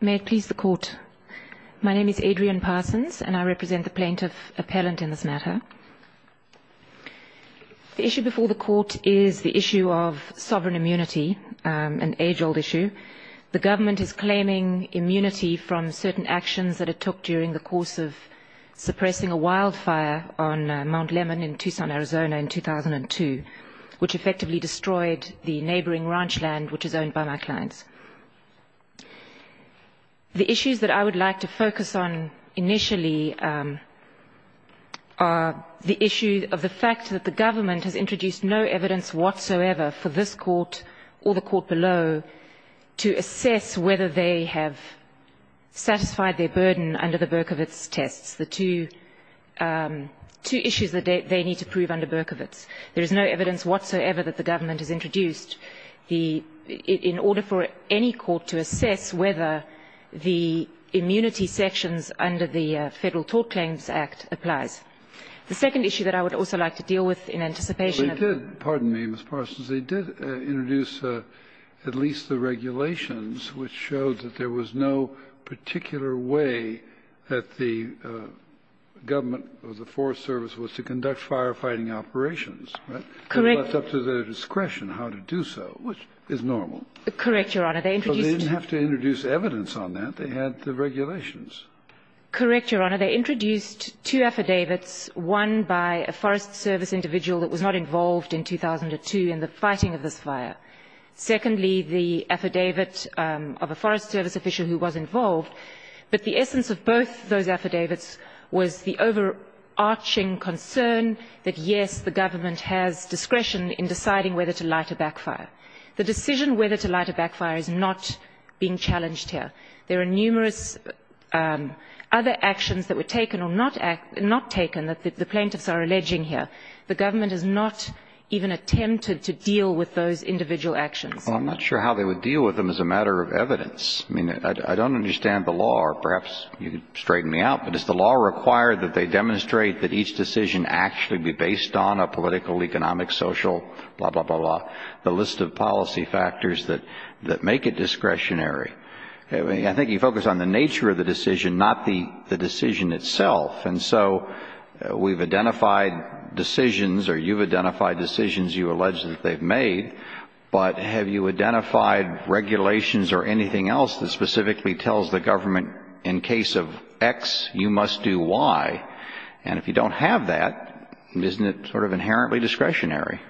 May it please the Court. My name is Adrienne Parsons and I represent the plaintiff appellant in this matter. The issue before the Court is the issue of sovereign immunity, an age-old issue. The Government is claiming immunity from certain actions that it took during the course of suppressing a wildfire on Mount Lemmon in Tucson, Arizona in 2002, which effectively destroyed the neighboring ranch land which is owned by my clients. The issues that I would like to focus on initially are the issue of the fact that the Government has introduced no evidence whatsoever for this court or the court below to assess whether they have satisfied their burden under the Berkovits tests, the two issues that they need to prove under Berkovits. There is no evidence whatsoever that the Government has introduced. The — in order for any court to assess whether the immunity sections under the Federal Tort Claims Act applies. The second issue that I would also like to deal with in anticipation of the — Kennedy, pardon me, Ms. Parsons. They did introduce at least the regulations which showed that there was no particular way that the Government or the Forest Service was to conduct firefighting operations. Correct. It was up to their discretion how to do so, which is normal. Correct, Your Honor. They introduced — So they didn't have to introduce evidence on that. They had the regulations. Correct, Your Honor. They introduced two affidavits, one by a Forest Service individual that was not involved in 2002 in the fighting of this fire. Secondly, the affidavit of a Forest Service official who was involved. But the essence of both those affidavits was the overarching concern that, yes, the Government has discretion in deciding whether to light a backfire. The decision whether to light a backfire is not being challenged here. There are numerous other actions that were taken or not taken that the plaintiffs are alleging here. The Government has not even attempted to deal with those individual actions. Well, I'm not sure how they would deal with them as a matter of evidence. I mean, I don't understand the law, or perhaps you can straighten me out, but is the law required that they demonstrate that each decision actually be based on a political, economic, social, blah, blah, blah, blah, the list of policy factors that make it discretionary? I think you focus on the nature of the decision, not the decision itself. And so we've identified decisions, or you've identified decisions you allege that they've made, but have you identified regulations or anything else that specifically tells the Government, in case of X, you must do Y? And if you don't have that, isn't it sort of inherently discretionary?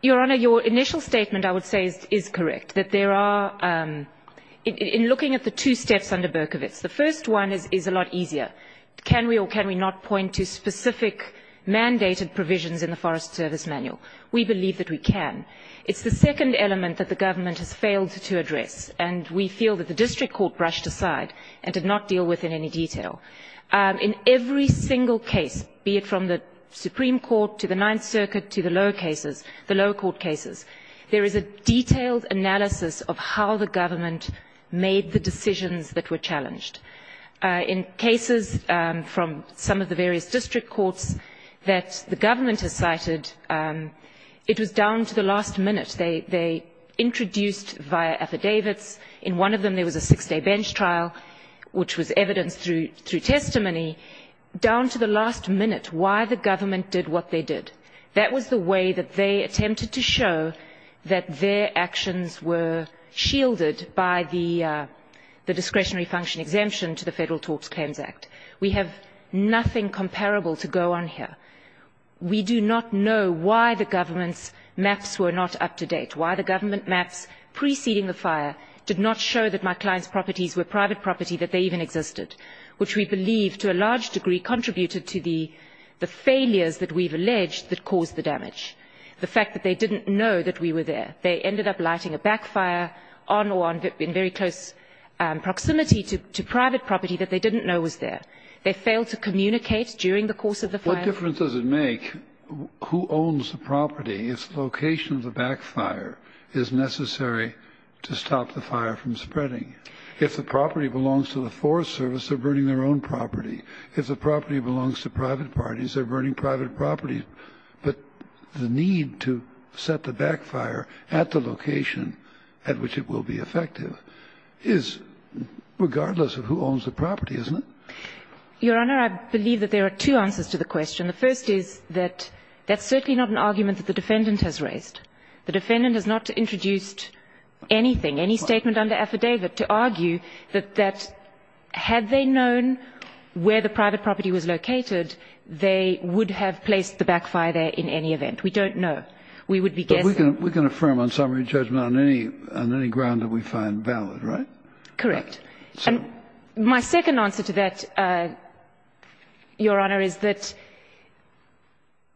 Your Honor, your initial statement, I would say, is correct, that there are, in looking at the two steps under Berkovitz, the first one is a lot easier. Can we or can we not point to specific mandated provisions in the Forest Service Manual? We believe that we can. It's the second element that the Government has failed to address, and we feel that the district court brushed aside and did not deal with in any detail. In every single case, be it from the Supreme Court to the Ninth Circuit to the lower cases, the lower court cases, there is a detailed analysis of how the Government made the decisions that were challenged. In cases from some of the various district courts that the Government has cited, it was down to the last minute. They introduced via affidavits, in one of them there was a six-day bench trial, which was evidenced through testimony, down to the last minute why the Government did what they did. That was the way that they attempted to show that their actions were shielded by the discretionary function exemption to the Federal Talks Claims Act. We have nothing comparable to go on here. We do not know why the Government's maps were not up to date, why the Government maps preceding the fire did not show that my client's properties were private property, that they even existed, which we believe, to a large degree, contributed to the failures that we've alleged that caused the damage, the fact that they didn't know that we were there. They ended up lighting a backfire on or in very close proximity to private property that they didn't know was there. They failed to communicate during the course of the fire. What difference does it make who owns the property if the location of the backfire is necessary to stop the fire from spreading? If the property belongs to the Forest Service, they're burning their own property. If the property belongs to private parties, they're burning private property. But the need to set the backfire at the location at which it will be effective is regardless of who owns the property, isn't it? Your Honor, I believe that there are two answers to the question. The first is that that's certainly not an argument that the defendant has raised. The defendant has not introduced anything, any statement under affidavit to argue that had they known where the private property was located, they would have placed the backfire there in any event. We don't know. We would be guessing. But we can affirm on summary judgment on any ground that we find valid, right? Correct. And my second answer to that, Your Honor, is that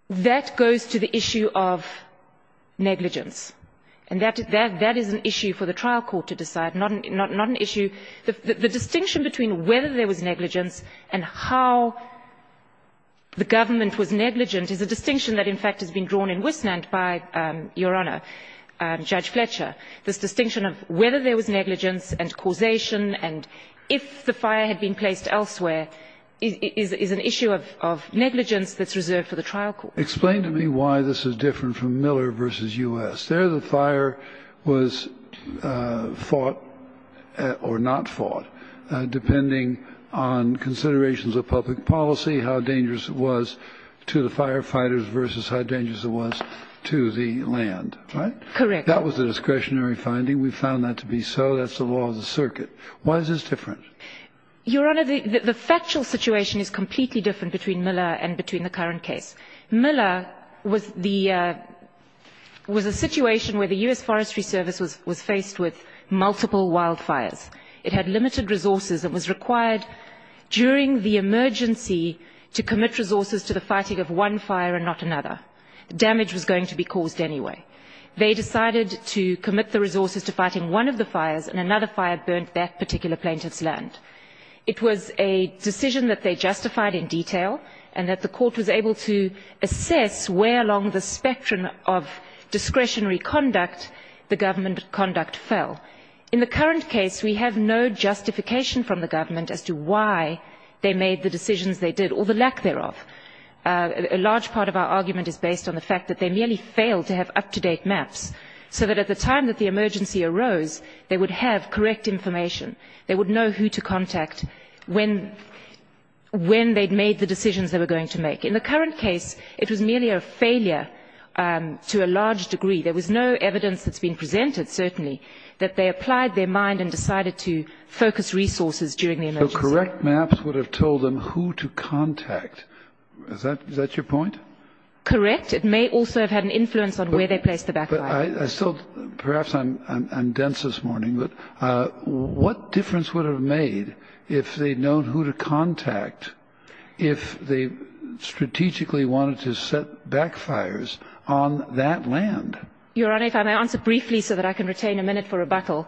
that goes to the issue of negligence. And that is an issue for the trial court to decide, not an issue. The distinction between whether there was negligence and how the government was negligent is a distinction that, in fact, has been drawn in Westland by, Your Honor, Judge Fletcher. This distinction of whether there was negligence and causation and if the fire had been placed elsewhere is an issue of negligence that's reserved for the trial court. Explain to me why this is different from Miller v. U.S. There the fire was fought or not fought depending on considerations of public policy, how dangerous it was to the firefighters versus how dangerous it was to the land, right? Correct. That was a discretionary finding. We found that to be so. That's the law of the circuit. Why is this different? Your Honor, the factual situation is completely different between Miller and between the current case. Miller was the situation where the U.S. Forestry Service was faced with multiple wildfires. It had limited resources. It was required during the emergency to commit resources to the fighting of one fire and not another. Damage was going to be caused anyway. They decided to commit the resources to fighting one of the fires, and another fire burnt that particular plaintiff's land. It was a decision that they justified in detail and that the court was able to assess where along the spectrum of discretionary conduct the government conduct fell. In the current case, we have no justification from the government as to why they made the decisions they did or the lack thereof. A large part of our argument is based on the fact that they merely failed to have up-to-date maps so that at the time that the emergency arose, they would have correct information. They would know who to contact, when they'd made the decisions they were going to make. In the current case, it was merely a failure to a large degree. There was no evidence that's been presented, certainly, that they applied their mind and decided to focus resources during the emergency. So correct maps would have told them who to contact. Is that your point? Correct. It may also have had an influence on where they placed the backfire. Perhaps I'm dense this morning, but what difference would it have made if they'd known who to contact if they strategically wanted to set backfires on that land? Your Honor, if I may answer briefly so that I can retain a minute for rebuttal.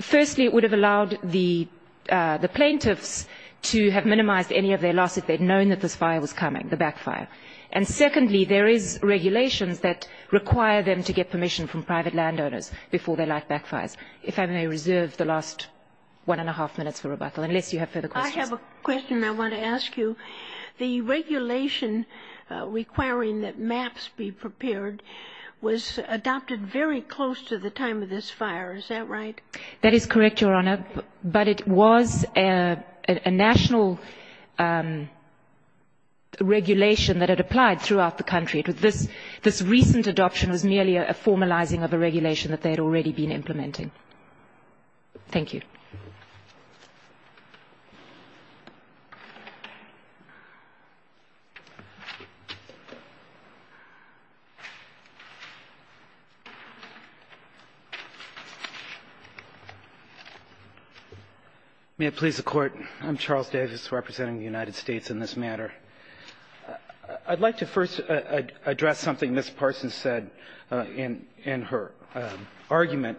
Firstly, it would have allowed the plaintiffs to have minimized any of their loss if they'd known that this fire was coming, the backfire. And secondly, there is regulations that require them to get permission from private landowners before they light backfires. If I may reserve the last one and a half minutes for rebuttal, unless you have further questions. I have a question I want to ask you. The regulation requiring that maps be prepared was adopted very close to the time of this fire. Is that right? That is correct, Your Honor. But it was a national regulation that had applied throughout the country. This recent adoption was merely a formalizing of a regulation that they had already been implementing. Thank you. May it please the Court. I'm Charles Davis representing the United States in this matter. I'd like to first address something Ms. Parsons said in her argument,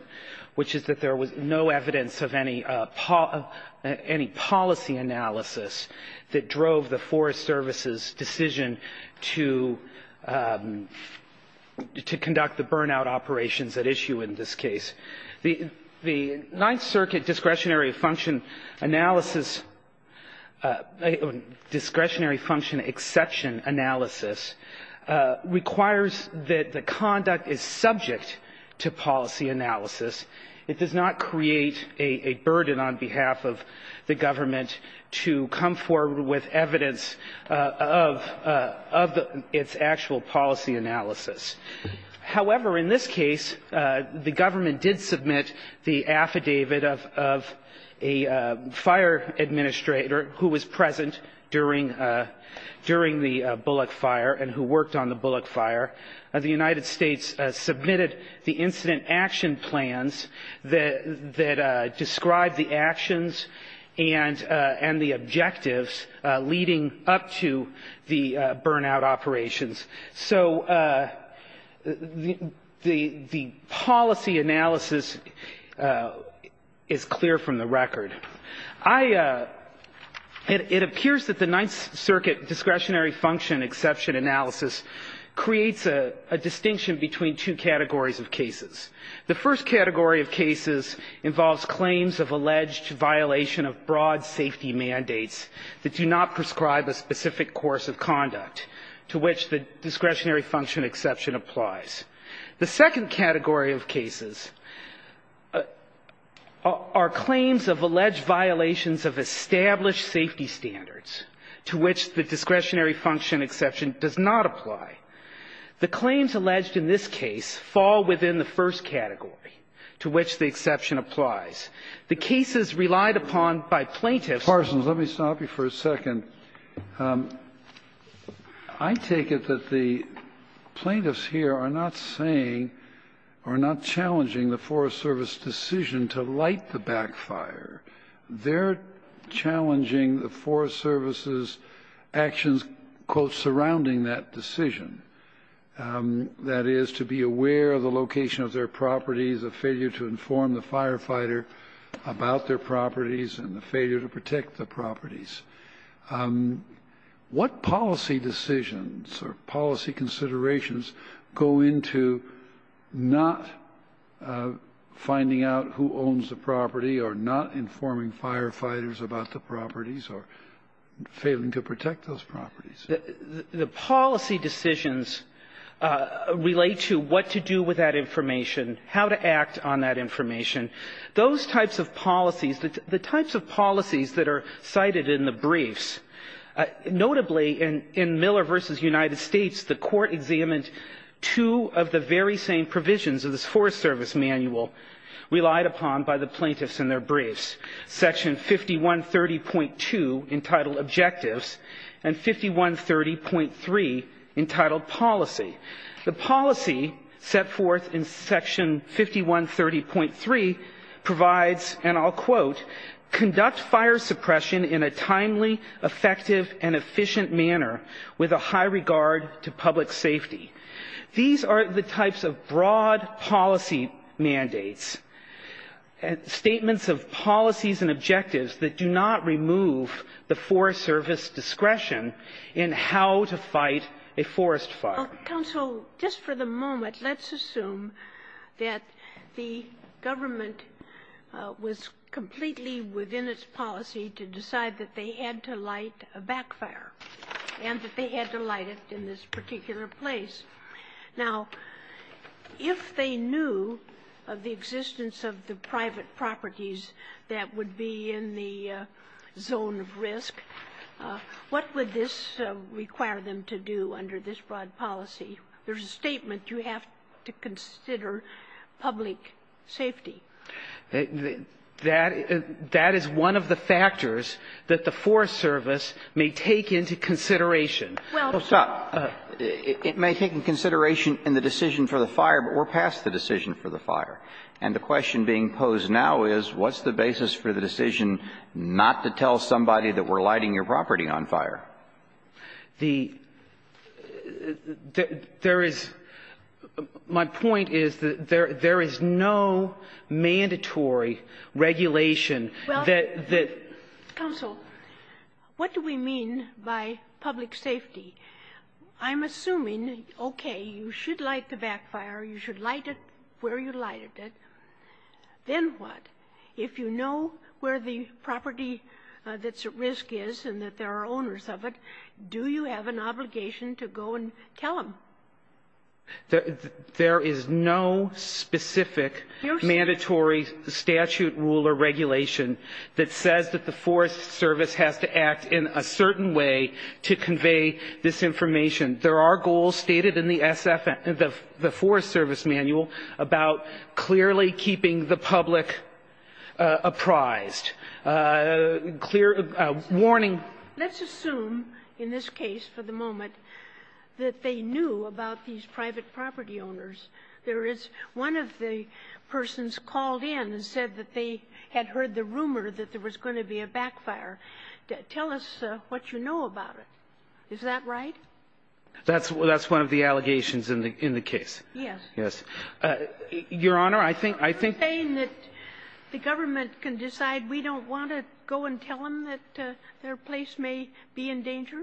which is that there was no evidence of any policy analysis that drove the Forest Service's decision to conduct the burnout operations at issue in this case. The Ninth Circuit discretionary function analysis, discretionary function exception analysis, requires that the conduct is subject to policy analysis. It does not create a burden on behalf of the government to come forward with evidence of its actual policy analysis. However, in this case, the government did submit the affidavit of a fire administrator who was present during the Bullock fire and who worked on the Bullock fire. The United States submitted the incident action plans that describe the actions and the objectives leading up to the burnout operations. So the policy analysis is clear from the record. It appears that the Ninth Circuit discretionary function exception analysis creates a distinction between two categories of cases. The first category of cases involves claims of alleged violation of broad safety mandates that do not prescribe a specific course of conduct to which the discretionary function exception applies. The second category of cases are claims of alleged violations of established safety standards to which the discretionary function exception does not apply. The claims alleged in this case fall within the first category to which the exception applies. The cases relied upon by plaintiffs are not subject to policy analysis. They're not saying or not challenging the Forest Service decision to light the backfire. They're challenging the Forest Service's actions, quote, surrounding that decision. That is, to be aware of the location of their properties, a failure to inform the firefighter about their properties, what policy decisions or policy considerations go into not finding out who owns the property or not informing firefighters about the properties or failing to protect those properties? The policy decisions relate to what to do with that information, how to act on that information. Those types of policies, the types of policies that are cited in the briefs, notably in Miller v. United States, the Court examined two of the very same provisions of this Forest Service manual relied upon by the plaintiffs in their briefs, Section 5130.2 entitled Objectives and 5130.3 entitled Policy. The policy set forth in Section 5130.3 provides, and I'll quote, conduct fire suppression in a timely, effective, and efficient manner with a high regard to public safety. These are the types of broad policy mandates, statements of policies and objectives that do not remove the Forest Service discretion in how to fight a forest fire. Counsel, just for the moment, let's assume that the government was completely within its policy to decide that they had to light a backfire and that they had to light it in this particular place. Now, if they knew of the existence of the private properties that would be in the zone of risk, what would this require them to do under this broad policy? There's a statement you have to consider public safety. That is one of the factors that the Forest Service may take into consideration. Well, sir. It may take into consideration in the decision for the fire, but we're past the decision for the fire. And the question being posed now is, what's the basis for the decision not to tell somebody that we're lighting your property on fire? The – there is – my point is that there is no mandatory regulation that the – Well, counsel, what do we mean by public safety? I'm assuming, okay, you should light the backfire. You should light it where you lighted it. Then what? If you know where the property that's at risk is and that there are owners of it, do you have an obligation to go and tell them? There is no specific mandatory statute, rule, or regulation that says that the Forest Service has to act in a certain way to convey this information. There are goals stated in the SF – the Forest Service manual about clearly keeping the public apprised, clear warning. Let's assume in this case for the moment that they knew about these private property owners. There is one of the persons called in and said that they had heard the rumor that there was going to be a backfire. Tell us what you know about it. Is that right? That's one of the allegations in the case. Yes. Yes. Your Honor, I think – Are you saying that the government can decide we don't want to go and tell them that their place may be in danger?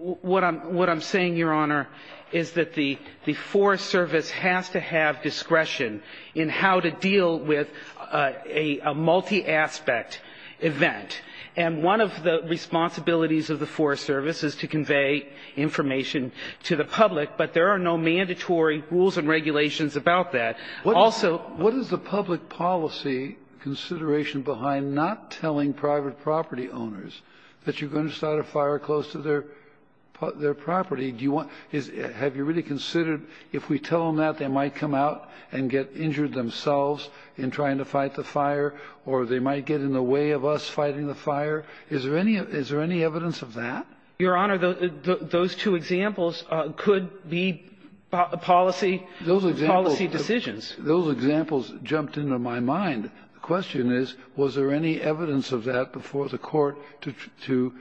What I'm saying, Your Honor, is that the Forest Service has to have discretion in how to deal with a multi-aspect event. And one of the responsibilities of the Forest Service is to convey information to the public. But there are no mandatory rules and regulations about that. Also – What is the public policy consideration behind not telling private property owners that you're going to start a fire close to their property? Do you want – have you really considered if we tell them that, they might come out and get injured themselves in trying to fight the fire, or they might get in the way of us fighting the fire? Is there any evidence of that? Your Honor, those two examples could be policy decisions. Those examples jumped into my mind. The question is, was there any evidence of that before the Court to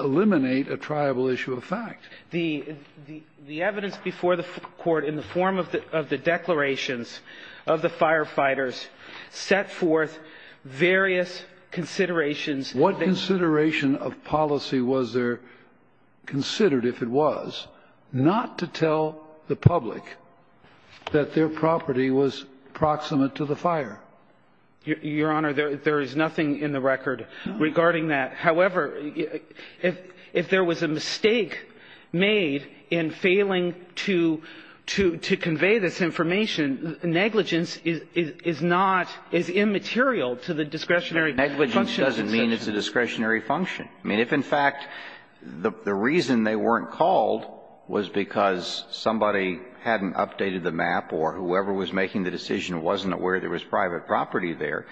eliminate a triable issue of fact? The evidence before the Court in the form of the declarations of the firefighters set forth various considerations. What consideration of policy was there considered, if it was, not to tell the public that their property was proximate to the fire? Your Honor, there is nothing in the record regarding that. However, if there was a mistake made in failing to convey this information, negligence is not – is immaterial to the discretionary function. Negligence doesn't mean it's a discretionary function. I mean, if in fact the reason they weren't called was because somebody hadn't updated the map or whoever was making the decision wasn't aware there was private property there,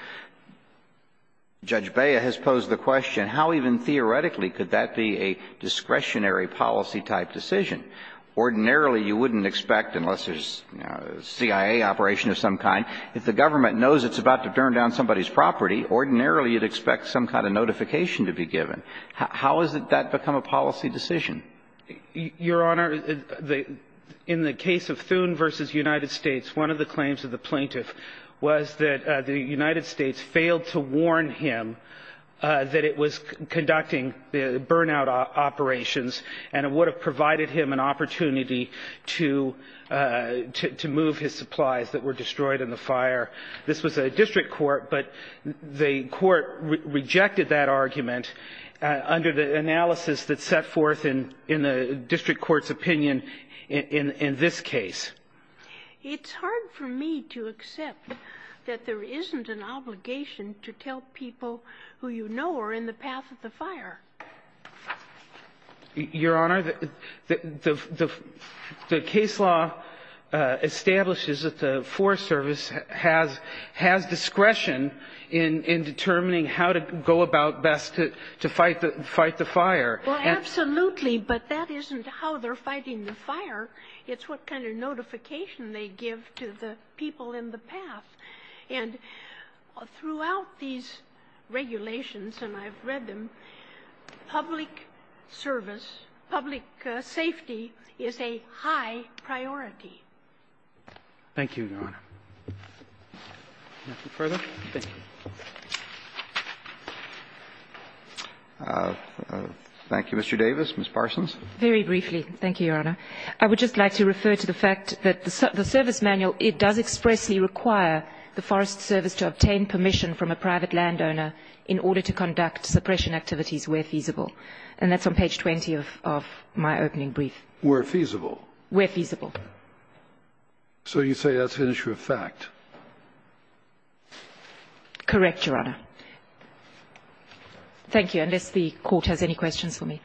Judge Bea has posed the question, how even theoretically could that be a discretionary policy-type decision? Ordinarily, you wouldn't expect, unless there's, you know, a CIA operation of some kind, if the government knows it's about to turn down somebody's property, ordinarily you'd expect some kind of notification to be given. How has that become a policy decision? Your Honor, in the case of Thune v. United States, one of the claims of the plaintiff was that the United States failed to warn him that it was conducting burnout operations and it would have provided him an opportunity to move his supplies that were destroyed in the fire. This was a district court, but the court rejected that argument under the analysis that's set forth in the district court's opinion in this case. It's hard for me to accept that there isn't an obligation to tell people who you know are in the path of the fire. Your Honor, the case law establishes that the Forest Service has discretion in determining how to go about best to fight the fire. Well, absolutely, but that isn't how they're fighting the fire. It's what kind of notification they give to the people in the path. And throughout these regulations, and I've read them, public service, public safety is a high priority. Thank you, Your Honor. Thank you, Mr. Davis. Ms. Parsons. Very briefly, thank you, Your Honor. I would just like to refer to the fact that the service manual, it does expressly require the Forest Service to obtain permission from a private landowner in order to conduct suppression activities where feasible. And that's on page 20 of my opening brief. Where feasible? Where feasible. So you say that's an issue of fact? Correct, Your Honor. Thank you, unless the Court has any questions for me.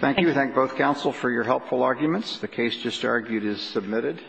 Thank you. We thank both counsel for your helpful arguments. The case just argued is submitted.